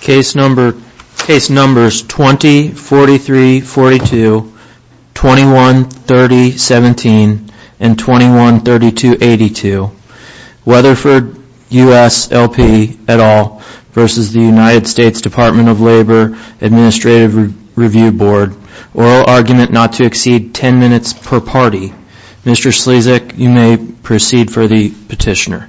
Case numbers 20-43-42, 21-30-17, and 21-32-82. Weatherford US LP et al. v. US Department of Labor Administrative Review Board. Oral argument not to exceed 10 minutes per party. Mr. Slazek, you may proceed for the petitioner.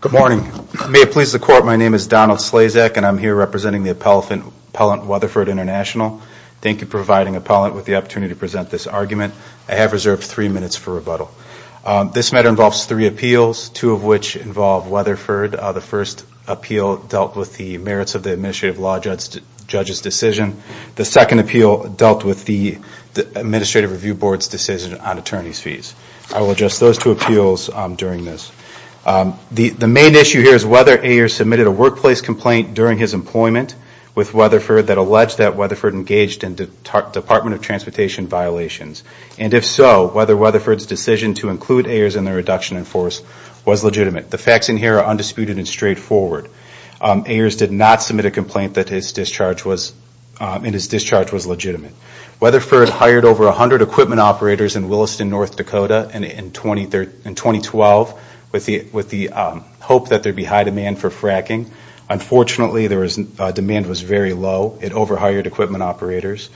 Good morning. May it please the Court, my name is Donald Slazek and I'm here representing the appellant Weatherford International. Thank you for providing the appellant with the opportunity to present this argument. I have reserved three minutes for rebuttal. This matter involves three appeals, two of which involve Weatherford. The first appeal dealt with the merits of the Administrative Law Judge's decision. The second appeal dealt with the Administrative Review Board's decision on attorney's fees. I will address those two appeals during this. The main issue here is whether Ayer submitted a workplace complaint during his employment with Weatherford that alleged that and if so, whether Weatherford's decision to include Ayers in the reduction in force was legitimate. The facts in here are undisputed and straightforward. Ayers did not submit a complaint that his discharge was legitimate. Weatherford hired over 100 equipment operators in Williston, North Dakota in 2012 with the hope that there would be high demand for fracking. Unfortunately, demand was very low. It overhired equipment operators.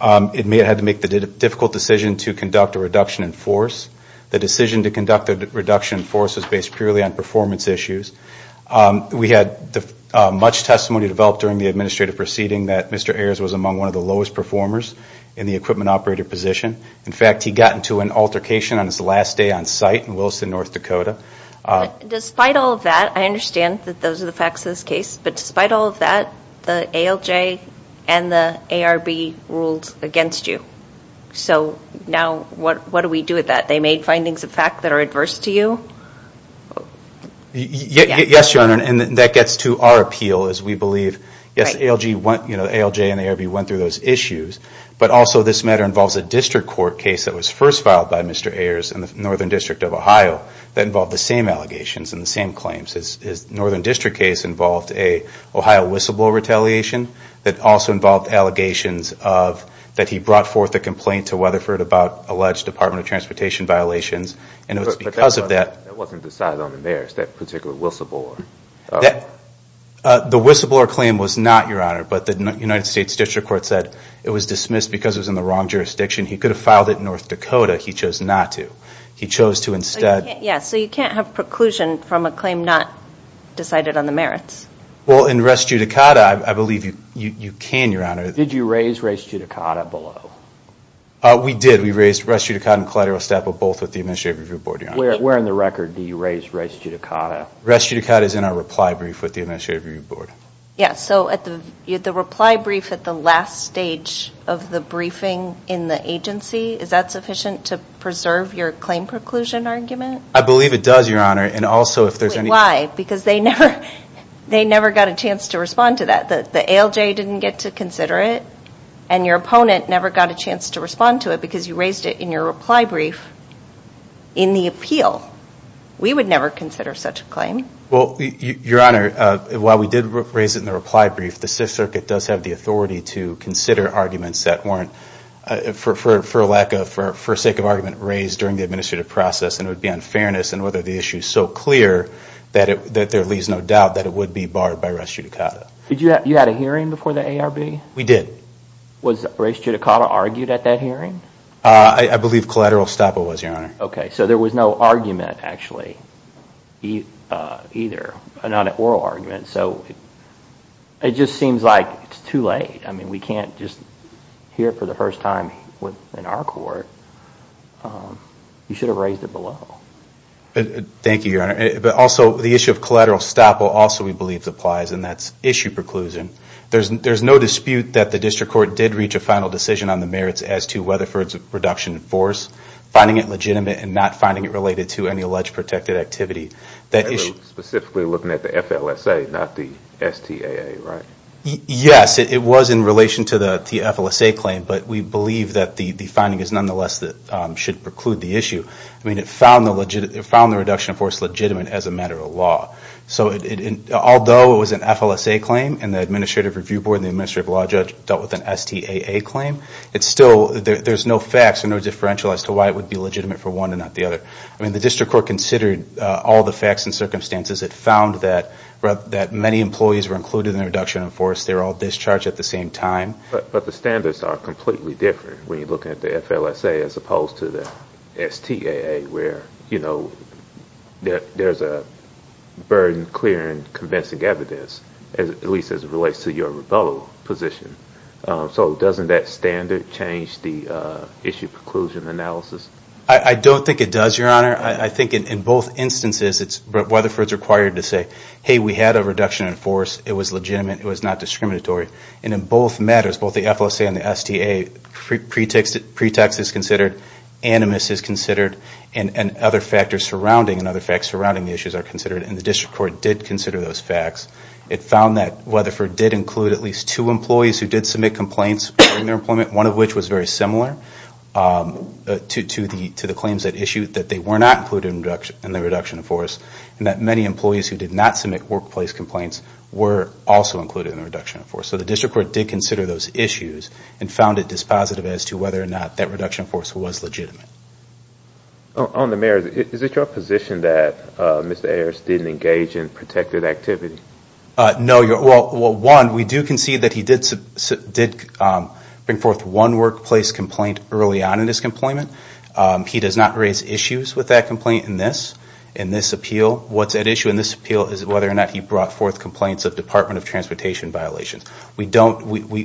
It had to make the difficult decision to conduct a reduction in force. The decision to conduct a reduction in force was based purely on performance issues. We had much testimony developed during the administrative proceeding that Mr. Ayers was among one of the lowest performers in the equipment operator position. In fact, he got into an altercation on his last day on site in Williston, North Dakota. Despite all of that, I understand that those are the facts of this case, but despite all of that, the ALJ and the ARB ruled against you. So now what do we do with that? They made findings of fact that are adverse to you? Yes, Your Honor, and that gets to our appeal as we believe, yes, ALJ and ARB went through those issues, but also this matter involves a district court case that was first filed by Mr. Ayers in the Northern District of Ohio that involved the same allegations and the same claims. His Northern District case involved an Ohio whistleblower retaliation that also involved allegations that he brought forth a complaint to Weatherford about alleged Department of Transportation violations, and it was because of that. But that wasn't decided on in there, that particular whistleblower? The whistleblower claim was not, Your Honor, but the United States District Court said it was dismissed because it was in the wrong jurisdiction. He could have filed it in North Dakota. He chose not to. He chose to instead. Yes, so you can't have preclusion from a claim not decided on the merits? Well, in res judicata, I believe you can, Your Honor. Did you raise res judicata below? We did. We raised res judicata and collateral estapo both with the Administrative Review Board, Your Honor. Where in the record do you raise res judicata? Res judicata is in our reply brief with the Administrative Review Board. Yes, so the reply brief at the last stage of the briefing in the agency, is that sufficient to preserve your claim preclusion argument? I believe it does, Your Honor, and also if there's any... Wait, why? Because they never got a chance to respond to that. The ALJ didn't get to consider it, and your opponent never got a chance to respond to it because you raised it in your reply brief in the appeal. We would never consider such a claim. Well, Your Honor, while we did raise it in the reply brief, the Sixth Circuit does have the authority to consider arguments that weren't, for lack of, for sake of argument, raised during the administrative process, and it would be unfairness, and whether the issue is so clear that there leaves no doubt that it would be barred by res judicata. You had a hearing before the ARB? We did. Was res judicata argued at that hearing? I believe collateral estapo was, Your Honor. Okay, so there was no argument, actually, either, not an oral argument, so it just seems like it's too late. I mean, we can't just hear it for the first time in our court. You should have raised it below. Thank you, Your Honor, but also the issue of collateral estapo also, we believe, applies, and that's issue preclusion. There's no dispute that the district court did reach a final decision on the merits as to Weatherford's reduction in force. Finding it legitimate and not finding it related to any alleged protected activity. Specifically looking at the FLSA, not the STAA, right? Yes, it was in relation to the FLSA claim, but we believe that the finding is, nonetheless, that should preclude the issue. I mean, it found the reduction in force legitimate as a matter of law. So although it was an FLSA claim and the Administrative Review Board and the Administrative Law Judge dealt with an STAA claim, it's still, there's no facts and no differential as to why it would be legitimate for one and not the other. I mean, the district court considered all the facts and circumstances. It found that many employees were included in the reduction in force. They were all discharged at the same time. But the standards are completely different when you look at the FLSA as opposed to the STAA, where, you know, there's a burden clear and convincing evidence, at least as it relates to your rebuttal position. So doesn't that standard change the issue preclusion analysis? I don't think it does, Your Honor. I think in both instances, Weatherford's required to say, hey, we had a reduction in force. It was legitimate. It was not discriminatory. And in both matters, both the FLSA and the STAA, pretext is considered, animus is considered, and other factors surrounding the issues are considered. And the district court did consider those facts. It found that Weatherford did include at least two employees who did submit complaints regarding their employment, one of which was very similar to the claims that issued that they were not included in the reduction in force, and that many employees who did not submit workplace complaints were also included in the reduction in force. So the district court did consider those issues and found it dispositive as to whether or not that reduction in force was legitimate. On the mayor, is it your position that Mr. Harris didn't engage in protected activity? No. Well, one, we do concede that he did bring forth one workplace complaint early on in his employment. He does not raise issues with that complaint in this, in this appeal. What's at issue in this appeal is whether or not he brought forth complaints of Department of Transportation violations. We don't, we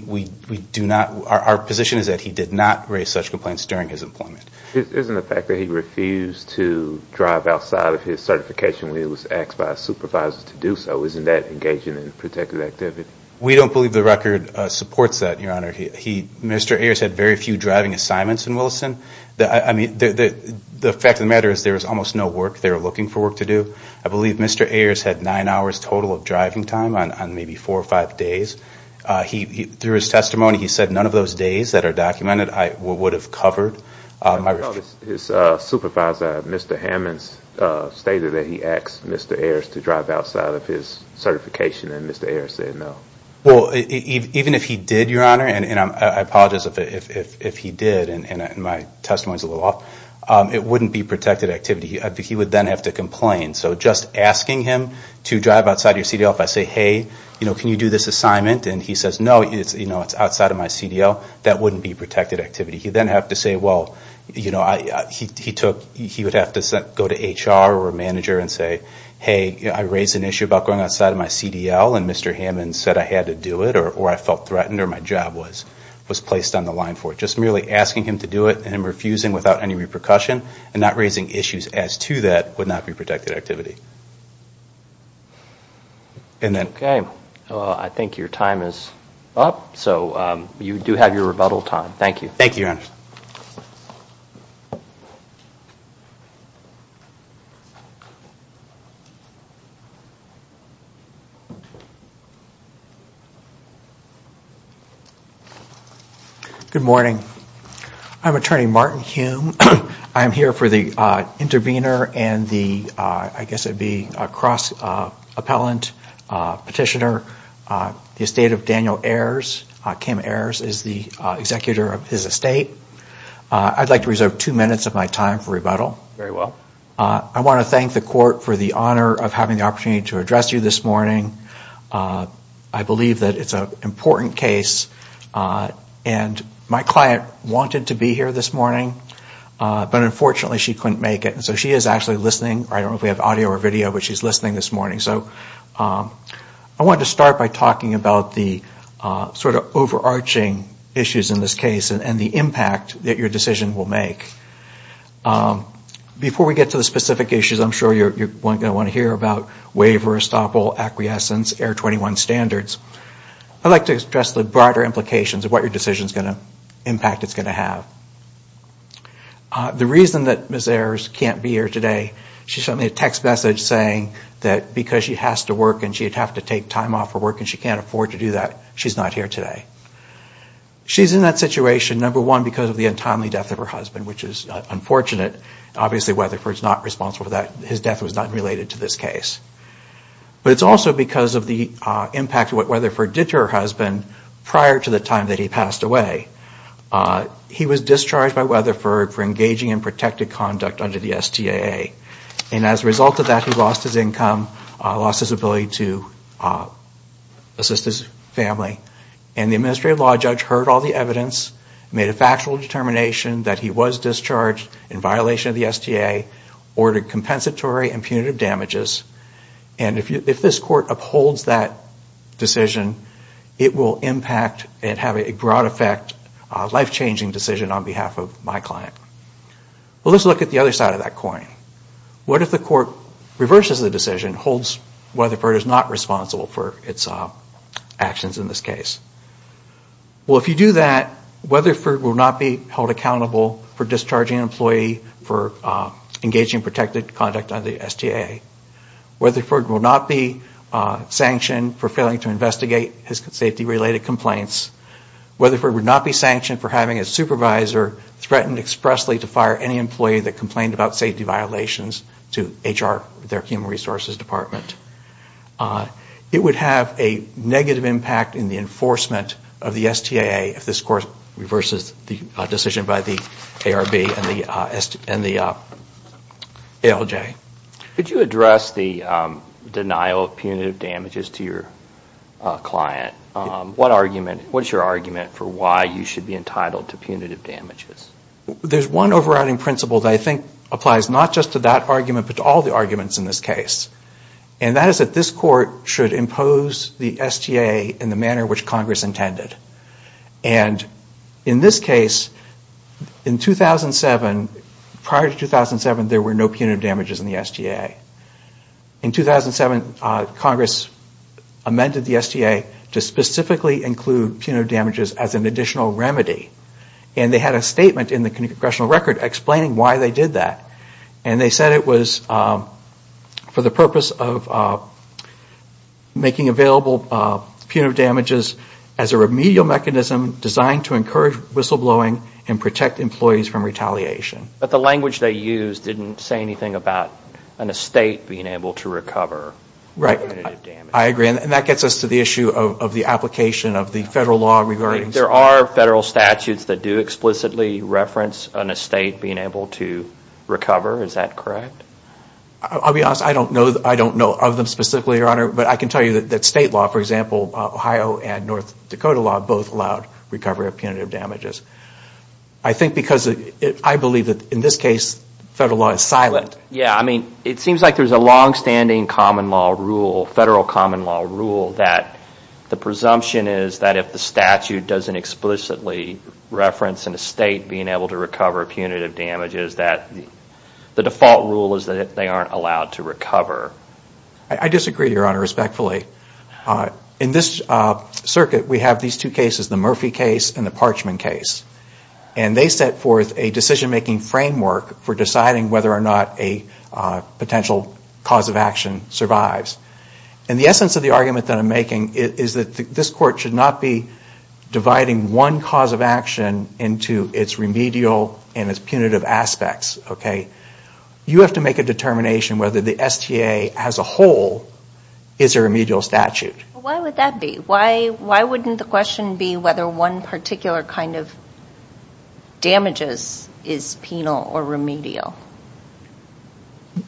do not, our position is that he did not raise such complaints during his employment. Isn't the fact that he refused to drive outside of his certification when he was asked by a supervisor to do so, isn't that engaging in protected activity? We don't believe the record supports that, Your Honor. He, Mr. Ayers had very few driving assignments in Williston. I mean, the fact of the matter is there was almost no work they were looking for work to do. I believe Mr. Ayers had nine hours total of driving time on maybe four or five days. He, through his testimony, he said none of those days that are documented I would have covered. His supervisor, Mr. Hammonds, stated that he asked Mr. Ayers to drive outside of his certification and Mr. Ayers said no. Well, even if he did, Your Honor, and I apologize if he did and my testimony is a little off, it wouldn't be protected activity. He would then have to complain. So just asking him to drive outside of your CDL, if I say, hey, can you do this assignment, and he says no, it's outside of my CDL, that wouldn't be protected activity. He would then have to say, well, you know, he would have to go to HR or a manager and say, hey, I raised an issue about going outside of my CDL and Mr. Hammonds said I had to do it or I felt threatened or my job was placed on the line for it. So just merely asking him to do it and him refusing without any repercussion and not raising issues as to that would not be protected activity. Okay. I think your time is up. So you do have your rebuttal time. Thank you. Thank you, Your Honor. Thank you. Good morning. I'm Attorney Martin Hume. I am here for the intervener and the, I guess it would be a cross-appellant petitioner. The estate of Daniel Ayers, Kim Ayers is the executor of his estate. I'd like to reserve two minutes of my time for rebuttal. Very well. I want to thank the court for the honor of having the opportunity to address you this morning. I believe that it's an important case and my client wanted to be here this morning, but unfortunately she couldn't make it. So she is actually listening. I don't know if we have audio or video, but she's listening this morning. So I wanted to start by talking about the sort of overarching issues in this case and the impact that your decision will make. Before we get to the specific issues, I'm sure you're going to want to hear about waiver, estoppel, acquiescence, Air 21 standards. I'd like to address the broader implications of what your decision is going to impact it's going to have. The reason that Ms. Ayers can't be here today, she sent me a text message saying that because she has to work and she would have to take time off from work and she can't afford to do that, she's not here today. She's in that situation, number one, because of the untimely death of her husband, which is unfortunate. Obviously Weatherford is not responsible for that. His death was not related to this case. But it's also because of the impact of what Weatherford did to her husband prior to the time that he passed away. He was discharged by Weatherford for engaging in protected conduct under the STAA. And as a result of that, he lost his income, lost his ability to assist his family. And the administrative law judge heard all the evidence, made a factual determination that he was discharged in violation of the STAA, ordered compensatory and punitive damages. And if this court upholds that decision, it will impact and have a broad effect, a life-changing decision on behalf of my client. Well, let's look at the other side of that coin. What if the court reverses the decision, holds Weatherford is not responsible for its actions in this case? Well, if you do that, Weatherford will not be held accountable for discharging an employee for engaging in protected conduct under the STAA. Weatherford will not be sanctioned for failing to investigate his safety-related complaints. Weatherford would not be sanctioned for having a supervisor threaten expressly to fire any employee that complained about safety violations to HR, their human resources department. It would have a negative impact in the enforcement of the STAA if this court reverses the decision by the ARB and the ALJ. Could you address the denial of punitive damages to your client? What's your argument for why you should be entitled to punitive damages? There's one overriding principle that I think applies not just to that argument but to all the arguments in this case. And that is that this court should impose the STAA in the manner which Congress intended. And in this case, in 2007, prior to 2007, there were no punitive damages in the STAA. In 2007, Congress amended the STAA to specifically include punitive damages as an additional remedy. And they had a statement in the congressional record explaining why they did that. And they said it was for the purpose of making available punitive damages as a remedial mechanism designed to encourage whistleblowing and protect employees from retaliation. But the language they used didn't say anything about an estate being able to recover. Right. I agree. And that gets us to the issue of the application of the federal law regarding... There are federal statutes that do explicitly reference an estate being able to recover. Is that correct? I'll be honest. I don't know of them specifically, Your Honor. But I can tell you that state law, for example, Ohio and North Dakota law, both allowed recovery of punitive damages. I think because I believe that in this case, federal law is silent. Yeah, I mean, it seems like there's a longstanding common law rule, federal common law rule, that the presumption is that if the statute doesn't explicitly reference an estate being able to recover punitive damages, that the default rule is that they aren't allowed to recover. I disagree, Your Honor, respectfully. In this circuit, we have these two cases, the Murphy case and the Parchman case. And they set forth a decision-making framework for deciding whether or not a potential cause of action survives. And the essence of the argument that I'm making is that this court should not be dividing one cause of action into its remedial and its punitive aspects. You have to make a determination whether the STA as a whole is a remedial statute. Why would that be? Why wouldn't the question be whether one particular kind of damages is penal or remedial?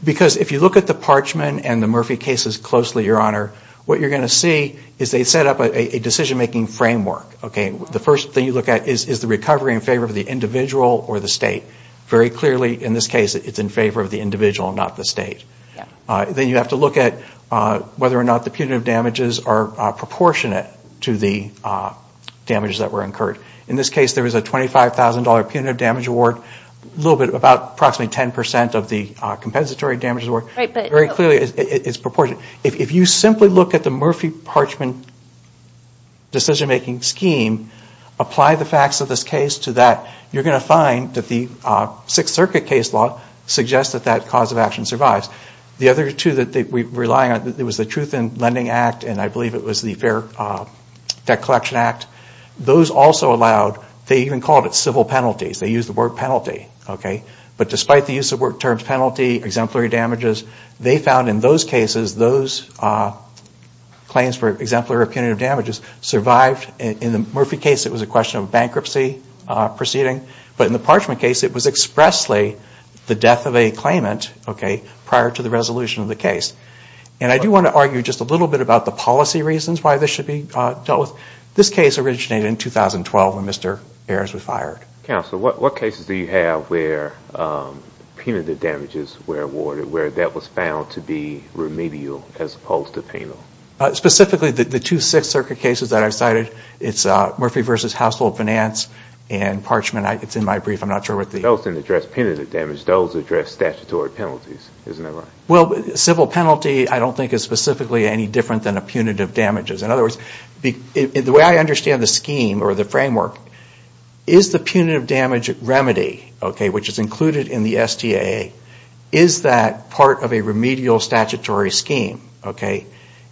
Because if you look at the Parchman and the Murphy cases closely, Your Honor, what you're going to see is they set up a decision-making framework. The first thing you look at is the recovery in favor of the individual or the state. Very clearly, in this case, it's in favor of the individual, not the state. Then you have to look at whether or not the punitive damages are proportionate to the damages that were incurred. In this case, there was a $25,000 punitive damage award, a little bit about approximately 10% of the compensatory damages award. Very clearly, it's proportionate. If you simply look at the Murphy-Parchman decision-making scheme, apply the facts of this case to that, you're going to find that the Sixth Circuit case law suggests that that cause of action survives. The other two that we're relying on, there was the Truth in Lending Act and I believe it was the Fair Debt Collection Act. Those also allowed, they even called it civil penalties. They used the word penalty. But despite the use of the word penalty, exemplary damages, they found in those cases, those claims for exemplary or punitive damages survived. In the Murphy case, it was a question of bankruptcy proceeding. But in the Parchman case, it was expressly the death of a claimant prior to the resolution of the case. And I do want to argue just a little bit about the policy reasons why this should be dealt with. This case originated in 2012 when Mr. Ayers was fired. Counsel, what cases do you have where punitive damages were awarded, where that was found to be remedial as opposed to penal? Specifically, the two Sixth Circuit cases that I've cited, it's Murphy v. Household Finance and Parchman. It's in my brief. I'm not sure what the... Those didn't address punitive damage. Those addressed statutory penalties. Isn't that right? Well, civil penalty I don't think is specifically any different than a punitive damages. In other words, the way I understand the scheme or the framework, is the punitive damage remedy, okay, which is included in the STAA, is that part of a remedial statutory scheme, okay?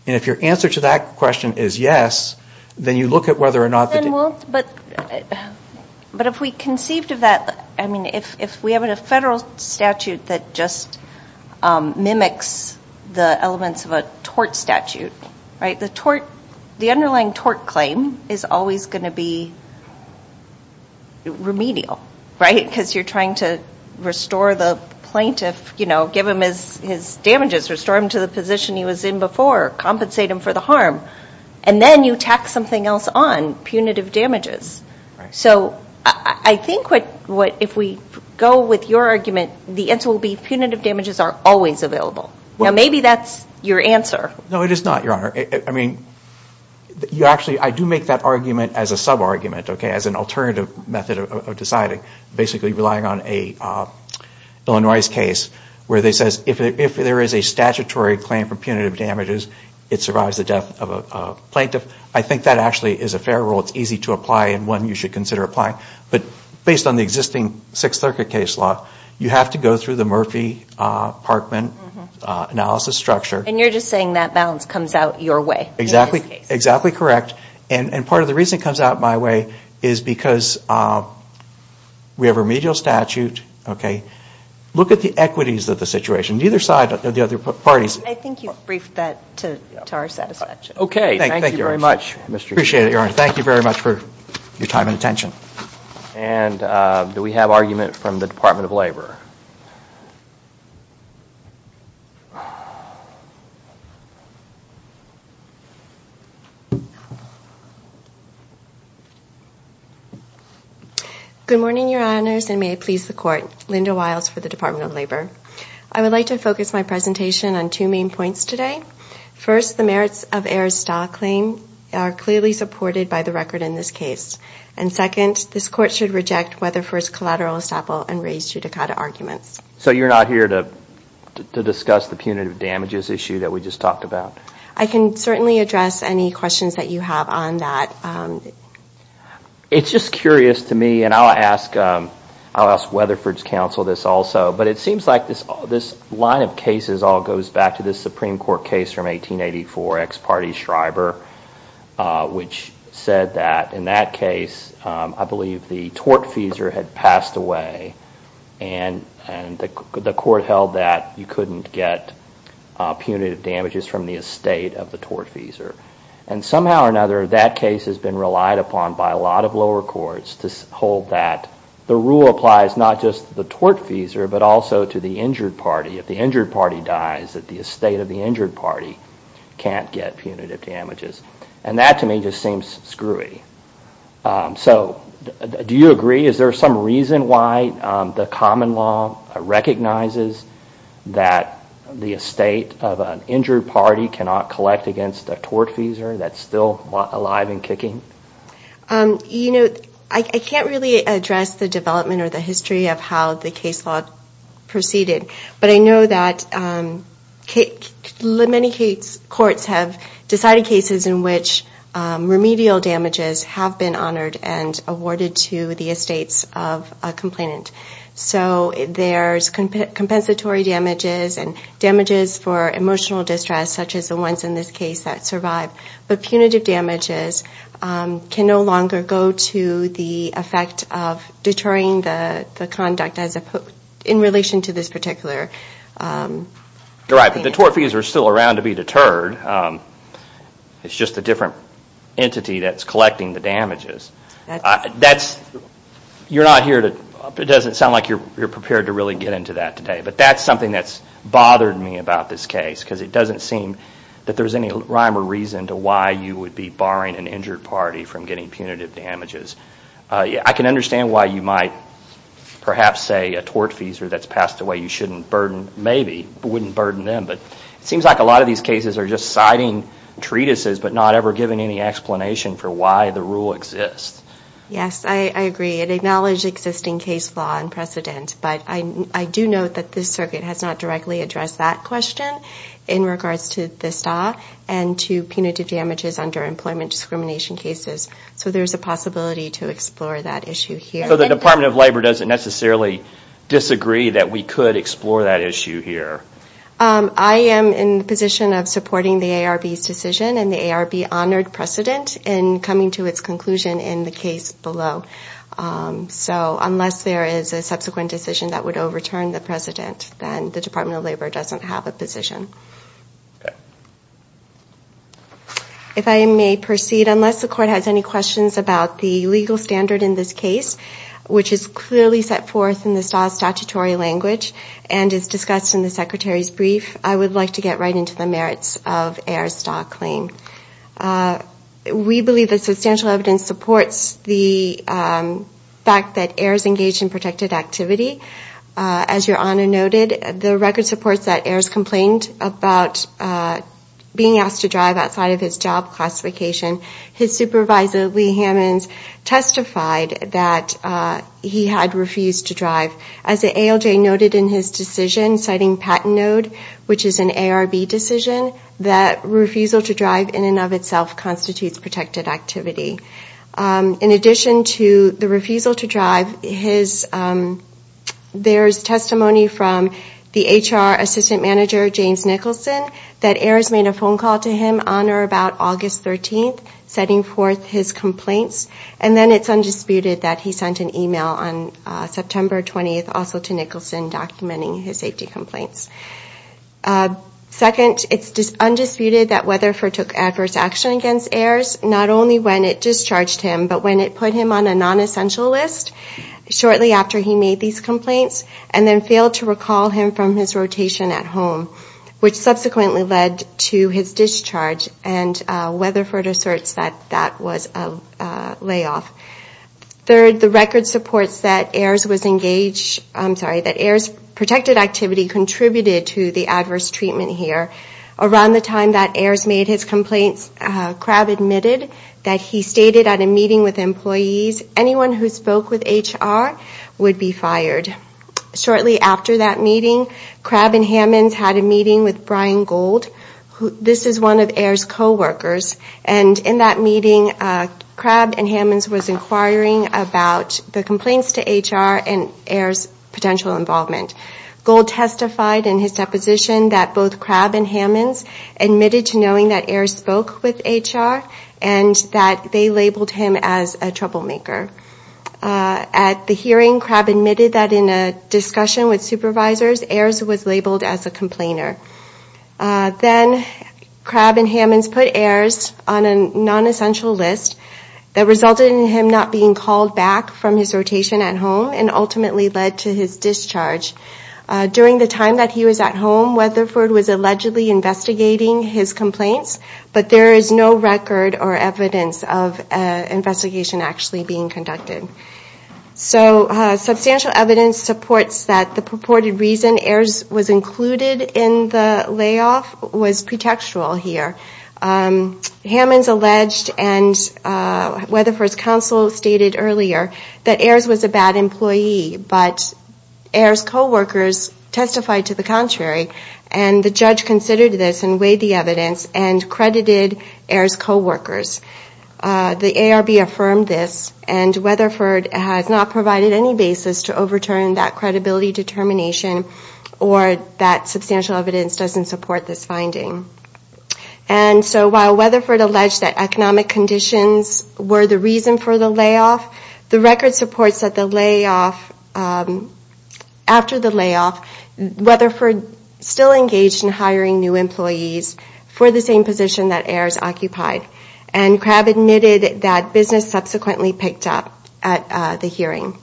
And if your answer to that question is yes, then you look at whether or not... But if we conceived of that, I mean, if we have a federal statute that just mimics the elements of a tort statute, right, the underlying tort claim is always going to be remedial, right, because you're trying to restore the plaintiff, you know, give him his damages, restore him to the position he was in before, compensate him for the harm, and then you tack something else on, punitive damages. So I think if we go with your argument, the answer will be punitive damages are always available. Now, maybe that's your answer. No, it is not, Your Honor. I mean, you actually... I do make that argument as a sub-argument, okay, as an alternative method of deciding, basically relying on a Illinois case where they say if there is a statutory claim for punitive damages, it survives the death of a plaintiff. I think that actually is a fair rule. It's easy to apply and one you should consider applying. But based on the existing Sixth Circuit case law, you have to go through the Murphy-Parkman analysis structure. And you're just saying that balance comes out your way in this case. Exactly correct. And part of the reason it comes out my way is because we have remedial statute, okay. Look at the equities of the situation, either side of the other parties. I think you've briefed that to our satisfaction. Okay. Thank you very much, Mr. Chairman. Appreciate it, Your Honor. Thank you very much for your time and attention. And do we have argument from the Department of Labor? Good morning, Your Honors, and may it please the Court. Linda Wiles for the Department of Labor. I would like to focus my presentation on two main points today. First, the merits of Ehr's Stahl claim are clearly supported by the record in this case. And second, this Court should reject Weatherford's collateral estoppel and raised judicata arguments. So you're not here to discuss the punitive damages issue that we just talked about? I can certainly address any questions that you have on that. It's just curious to me, and I'll ask Weatherford's counsel this also, but it seems like this line of cases all goes back to this Supreme Court case from 1884, ex parte Schreiber, which said that in that case I believe the tortfeasor had passed away and the Court held that you couldn't get punitive damages from the estate of the tortfeasor. And somehow or another, that case has been relied upon by a lot of lower courts to hold that the rule applies not just to the tortfeasor, but also to the injured party. If the injured party dies, the estate of the injured party can't get punitive damages. And that, to me, just seems screwy. So do you agree? Is there some reason why the common law recognizes that the estate of an injured party cannot collect against a tortfeasor that's still alive and kicking? You know, I can't really address the development or the history of how the case law proceeded, but I know that many courts have decided cases in which remedial damages have been honored and awarded to the estates of a complainant. So there's compensatory damages and damages for emotional distress, such as the ones in this case that survived, but punitive damages can no longer go to the effect of deterring the conduct in relation to this particular complainant. You're right, but the tortfeasors are still around to be deterred. It's just a different entity that's collecting the damages. You're not here to – it doesn't sound like you're prepared to really get into that today, but that's something that's bothered me about this case, because it doesn't seem that there's any rhyme or reason to why you would be barring an injured party from getting punitive damages. I can understand why you might perhaps say a tortfeasor that's passed away you shouldn't burden, maybe, wouldn't burden them, but it seems like a lot of these cases are just citing treatises but not ever giving any explanation for why the rule exists. Yes, I agree. It acknowledged existing case law and precedent, but I do note that this circuit has not directly addressed that question in regards to this law and to punitive damages under employment discrimination cases, so there's a possibility to explore that issue here. So the Department of Labor doesn't necessarily disagree that we could explore that issue here? I am in the position of supporting the ARB's decision and the ARB honored precedent in coming to its conclusion in the case below. So unless there is a subsequent decision that would overturn the precedent, then the Department of Labor doesn't have a position. Okay. If I may proceed, unless the court has any questions about the legal standard in this case, which is clearly set forth in the STAW statutory language and is discussed in the Secretary's brief, I would like to get right into the merits of A.R.'s STAW claim. We believe that substantial evidence supports the fact that A.R.'s engaged in protected activity. As Your Honor noted, the record supports that A.R.'s complained about being asked to drive outside of his job classification. His supervisor, Lee Hammons, testified that he had refused to drive. As the ALJ noted in his decision, citing patent note, which is an ARB decision, that refusal to drive in and of itself constitutes protected activity. In addition to the refusal to drive, there's testimony from the HR assistant manager, James Nicholson, that A.R.'s made a phone call to him on or about August 13th, setting forth his complaints. And then it's undisputed that he sent an email on September 20th also to Nicholson documenting his safety complaints. Second, it's undisputed that Weatherford took adverse action against A.R.'s, not only when it discharged him, but when it put him on a non-essential list shortly after he made these complaints, and then failed to recall him from his rotation at home, which subsequently led to his discharge. And Weatherford asserts that that was a layoff. Third, the record supports that A.R.'s was engaged, I'm sorry, that A.R.'s protected activity contributed to the adverse treatment here. Around the time that A.R.'s made his complaints, Crabb admitted that he stated at a meeting with employees, anyone who spoke with HR would be fired. Shortly after that meeting, Crabb and Hammonds had a meeting with Brian Gold, this is one of A.R.'s coworkers, and in that meeting, Crabb and Hammonds was inquiring about the complaints to HR and A.R.'s potential involvement. Gold testified in his deposition that both Crabb and Hammonds admitted to knowing that A.R. spoke with HR, and that they labeled him as a troublemaker. At the hearing, Crabb admitted that in a discussion with supervisors, A.R.'s was labeled as a complainer. Then Crabb and Hammonds put A.R.'s on a non-essential list that resulted in him not being called back from his rotation at home, and ultimately led to his discharge. During the time that he was at home, Weatherford was allegedly investigating his complaints, but there is no record or evidence of an investigation actually being conducted. Substantial evidence supports that the purported reason A.R.'s was included in the layoff was pretextual here. Hammonds alleged, and Weatherford's counsel stated earlier, that A.R.'s was a bad employee, but A.R.'s coworkers testified to the contrary. And the judge considered this and weighed the evidence and credited A.R.'s coworkers. The ARB affirmed this, and Weatherford has not provided any basis to overturn that credibility determination, or that substantial evidence doesn't support this finding. And so while Weatherford alleged that economic conditions were the reason for the layoff, the record supports that the layoff, after the layoff, Weatherford still engaged in hiring new employees for the same position that A.R.'s occupied. And Crabb admitted that business subsequently picked up at the hearing.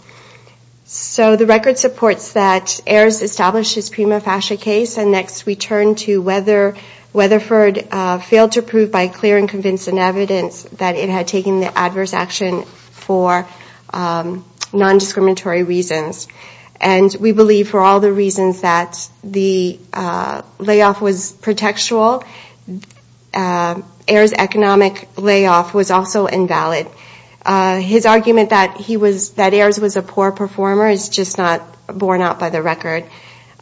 So the record supports that A.R.'s established his prima facie case, and next we turn to whether Weatherford failed to prove by clear and convincing evidence that it had taken the adverse action for non-discriminatory reasons. And we believe for all the reasons that the layoff was pretextual, A.R.'s economic layoff was also invalid. His argument that A.R.'s was a poor performer is just not borne out by the record.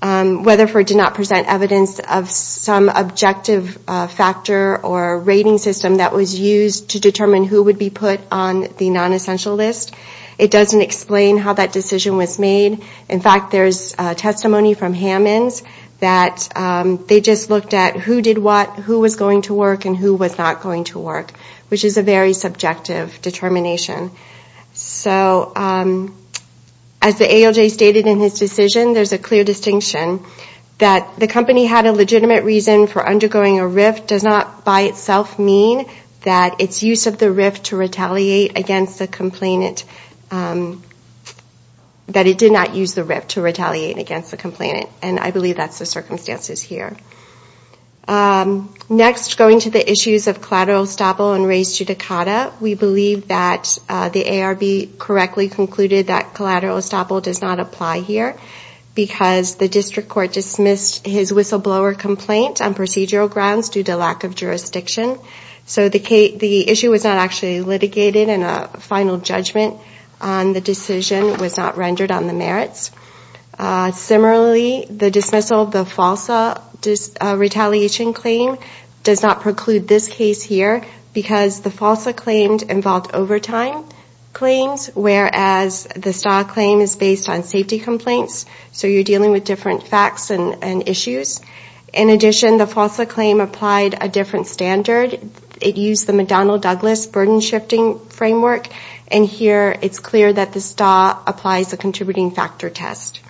Weatherford did not present evidence of some objective factor or rating system that was used to determine who would be put on the non-essential list. It doesn't explain how that decision was made. In fact, there's testimony from Hammonds that they just looked at who did what, who was going to work, and who was not going to work, which is a very subjective determination. So as the ALJ stated in his decision, there's a clear distinction that the company had a legitimate reason for undergoing a RIFT does not by itself mean that its use of the RIFT to retaliate against the complainant, that it did not use the RIFT to retaliate against the complainant, and I believe that's the circumstances here. Next, going to the issues of collateral estoppel and res judicata, we believe that the ARB correctly concluded that collateral estoppel does not apply here because the district court dismissed his whistleblower complaint on procedural grounds due to lack of jurisdiction. So the issue was not actually litigated, and a final judgment on the decision was not rendered on the merits. Similarly, the dismissal of the FALSA retaliation claim does not preclude this case here because the FALSA claims involved overtime claims, whereas the STAW claim is based on safety complaints, so you're dealing with different facts and issues. In addition, the FALSA claim applied a different standard. It used the McDonnell-Douglas burden-shifting framework, and here it's clear that the STAW applies a contributing factor test.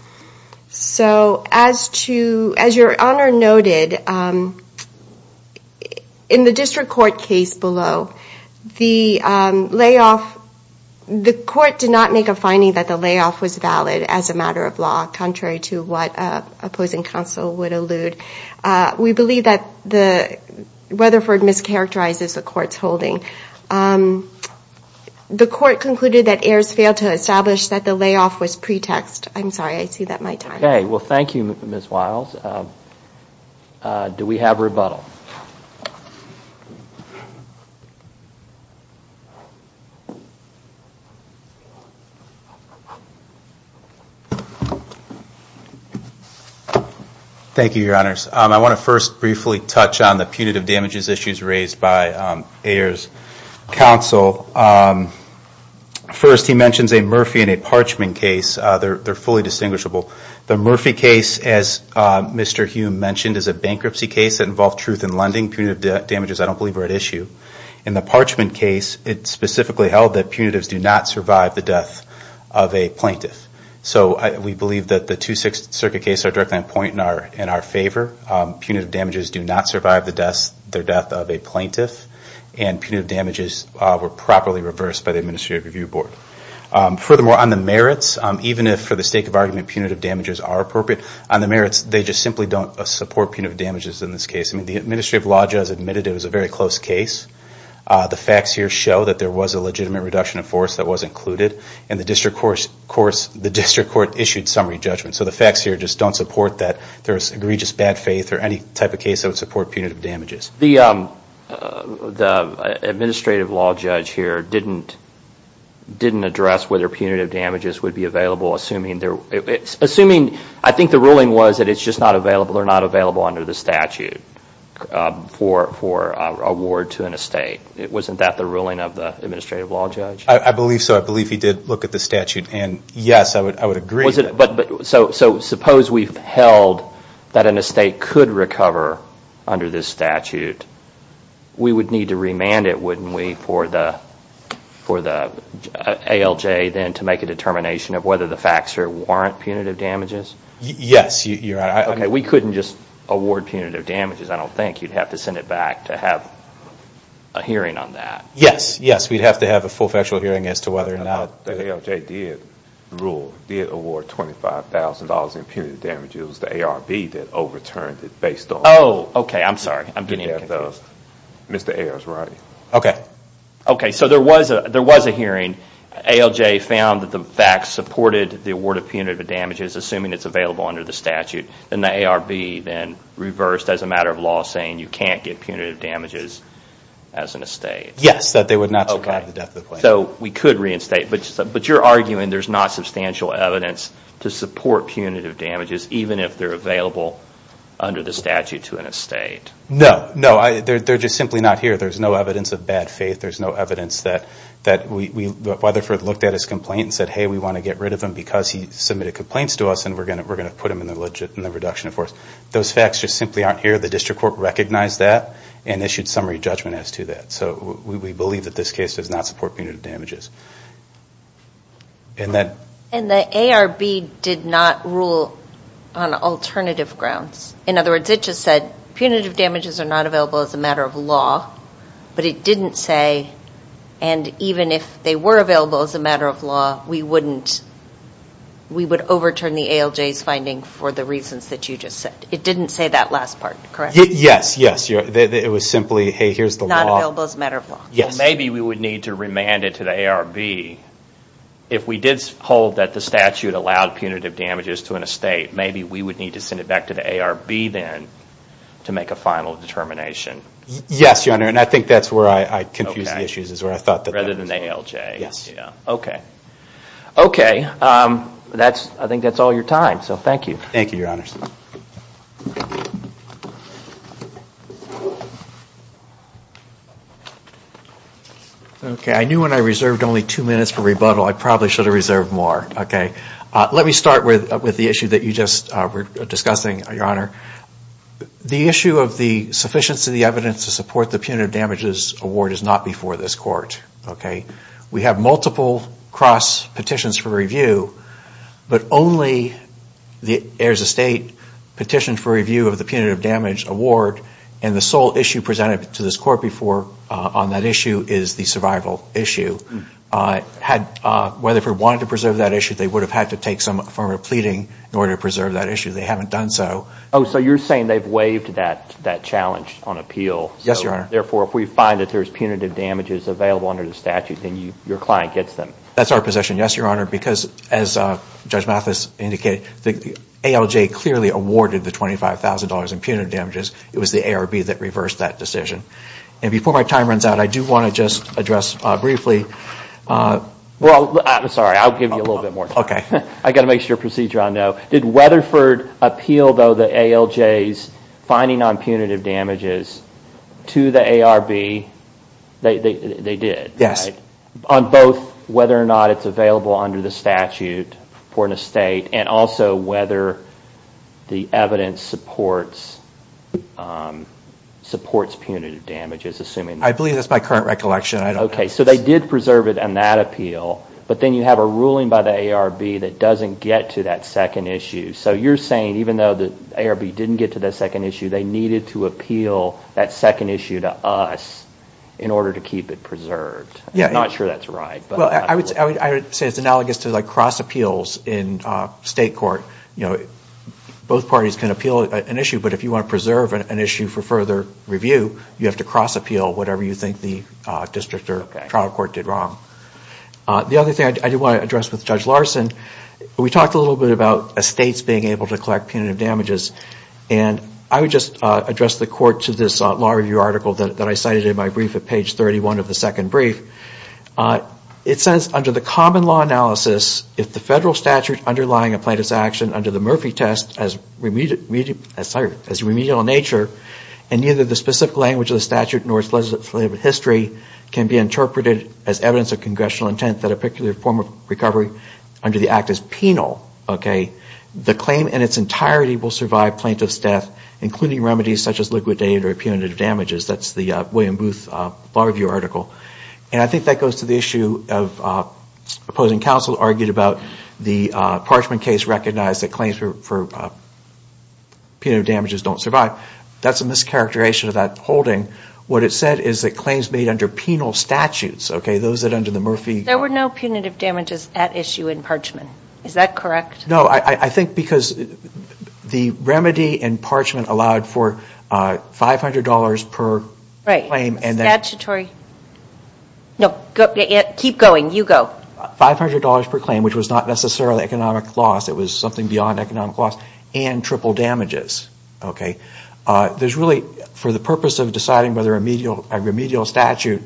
So as your Honor noted, in the district court case below, the layoff, the court did not make a finding that the layoff was valid as a matter of law, contrary to what opposing counsel would allude. We believe that Weatherford mischaracterizes the court's holding. The court concluded that Ayers failed to establish that the layoff was pretext. I'm sorry, I see that my time is up. Okay. Well, thank you, Ms. Wiles. Do we have rebuttal? Thank you, Your Honors. I want to first briefly touch on the punitive damages issues raised by Ayers, and then we'll move on to counsel. First, he mentions a Murphy and a Parchman case. They're fully distinguishable. The Murphy case, as Mr. Hume mentioned, is a bankruptcy case that involved truth in lending. Punitive damages, I don't believe, are at issue. In the Parchman case, it's specifically held that punitives do not survive the death of a plaintiff. So we believe that the Two Sixth Circuit case are directly in our favor. Punitive damages do not survive the death of a plaintiff, and the damages were properly reversed by the Administrative Review Board. Furthermore, on the merits, even if, for the sake of argument, punitive damages are appropriate, on the merits, they just simply don't support punitive damages in this case. I mean, the Administrative Law Judge admitted it was a very close case. The facts here show that there was a legitimate reduction of force that was included, and the District Court issued summary judgment. So the facts here just don't support that there's egregious bad faith or any type of case that would support punitive damages. The Administrative Law Judge here didn't address whether punitive damages would be available, assuming I think the ruling was that it's just not available or not available under the statute for award to an estate. Wasn't that the ruling of the Administrative Law Judge? I believe so. I believe he did look at the statute, and yes, I would agree. So suppose we've held that an estate could recover under this statute, we would need to remand it, wouldn't we, for the ALJ then to make a determination of whether the facts here warrant punitive damages? Yes, you're right. Okay, we couldn't just award punitive damages, I don't think. You'd have to send it back to have a hearing on that. Yes, yes, we'd have to have a full factual hearing as to whether or not... The ALJ did award $25,000 in punitive damages. It was the ARB that overturned it based on... Oh, okay, I'm sorry. I'm getting confused. Okay, so there was a hearing. ALJ found that the facts supported the award of punitive damages, assuming it's available under the statute. Then the ARB then reversed as a matter of law saying you can't get punitive damages as an estate. Okay, so we could reinstate, but you're arguing there's not substantial evidence to support punitive damages, even if they're available under the statute to an estate. No, no, they're just simply not here. There's no evidence of bad faith. There's no evidence that... Weatherford looked at his complaint and said, hey, we want to get rid of him because he submitted complaints to us, and we're going to put him in the reduction of force. Those facts just simply aren't here. The district court recognized that and issued summary judgment as to that. So we believe that this case does not support punitive damages. And the ARB did not rule on alternative grounds. In other words, it just said punitive damages are not available as a matter of law, but it didn't say, and even if they were available as a matter of law, we would overturn the ALJ's finding for the reasons that you just said. It didn't say that last part, correct? Yes, yes. It was simply, hey, here's the law. Maybe we would need to remand it to the ARB. If we did hold that the statute allowed punitive damages to an estate, maybe we would need to send it back to the ARB then to make a final determination. Yes, Your Honor, and I think that's where I confused the issues. Rather than the ALJ. Okay, I think that's all your time, so thank you. Thank you, Your Honor. Okay, I knew when I reserved only two minutes for rebuttal I probably should have reserved more. Let me start with the issue that you just were discussing, Your Honor. The issue of the sufficiency of the evidence to support the punitive damages award is not before this court. We have multiple cross petitions for review, but only the heirs estate petition for review of the punitive damage award, and the sole issue presented to this court before on that issue is the survival issue. Whether or not they wanted to preserve that issue, they would have had to take some form of pleading in order to preserve that issue. They haven't done so. Yes, Your Honor. That's our position, yes, Your Honor, because as Judge Mathis indicated, the ALJ clearly awarded the $25,000 in punitive damages. It was the ARB that reversed that decision. And before my time runs out, I do want to just address briefly Well, I'm sorry, I'll give you a little bit more time. I've got to make sure procedure on that. Did Weatherford appeal, though, the ALJ's finding on punitive damages to the ARB? They did. Yes. On both whether or not it's available under the statute for an estate, and also whether the evidence supports punitive damages, assuming I believe that's my current recollection. Okay, so they did preserve it on that appeal, but then you have a ruling by the ARB that doesn't get to that second issue. So you're saying even though the ARB didn't get to that second issue, they needed to appeal that second issue to us in order to keep it preserved. I'm not sure that's right. Well, I would say it's analogous to cross appeals in state court. Both parties can appeal an issue, but if you want to preserve an issue for further review, you have to cross appeal whatever you think the district or trial court did wrong. The other thing I do want to address with Judge Larson, we talked a little bit about estates being able to collect punitive damages. And I would just address the court to this law review article that I cited in my brief at page 31 of the second brief. It says, under the common law analysis, if the federal statute underlying a plaintiff's action under the Murphy test as remedial in nature, and neither the specific language of the statute nor its legislative history can be interpreted as evidence of congressional intent that a particular form of recovery under the act is penal, the claim in its entirety will survive plaintiff's death, including remedies such as liquidated or punitive damages. That's the William Booth law review article. And I think that goes to the issue of opposing counsel argued about the Parchman case recognized that claims for punitive damages don't survive. That's a mischaracterization of that holding. What it said is that claims made under penal statutes, okay, those under the Murphy... There were no punitive damages at issue in Parchman. Is that correct? No, I think because the remedy in Parchman allowed for $500 per claim. Right. Statutory. No, keep going. You go. $500 per claim, which was not necessarily economic loss. It was something beyond economic loss. And triple damages, okay. There's really, for the purpose of deciding whether a remedial statute,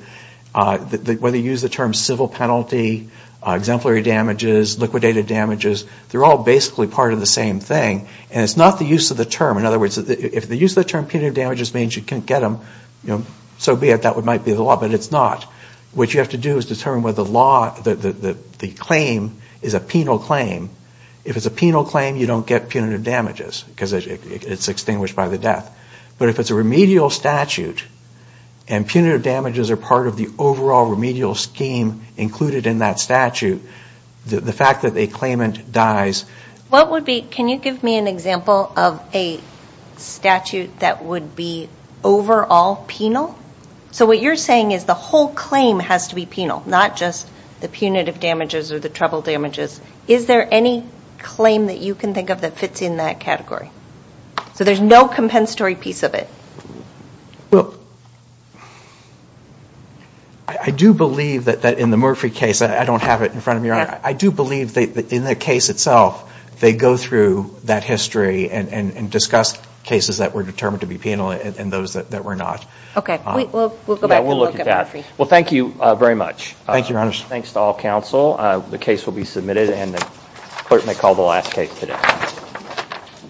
whether you use the term civil penalty, exemplary damages, liquidated damages, they're all under the same category. They're all basically part of the same thing. And it's not the use of the term. In other words, if the use of the term punitive damages means you can't get them, so be it. That might be the law. But it's not. What you have to do is determine whether the claim is a penal claim. If it's a penal claim, you don't get punitive damages because it's extinguished by the death. But if it's a remedial statute and punitive damages are part of the overall remedial scheme included in that statute, the fact that a claimant dies... Can you give me an example of a statute that would be overall penal? So what you're saying is the whole claim has to be penal, not just the punitive damages or the triple damages. Is there any claim that you can think of that fits in that category? So there's no compensatory piece of it. Well, I do believe that in the Murphy case, I don't have it in front of me. I do believe that in the case itself, they go through that history and discuss cases that were determined to be penal and those that were not. Okay. We'll go back and look at Murphy. Well, thank you very much. Thanks to all counsel. The case will be submitted and the clerk may call the last case today.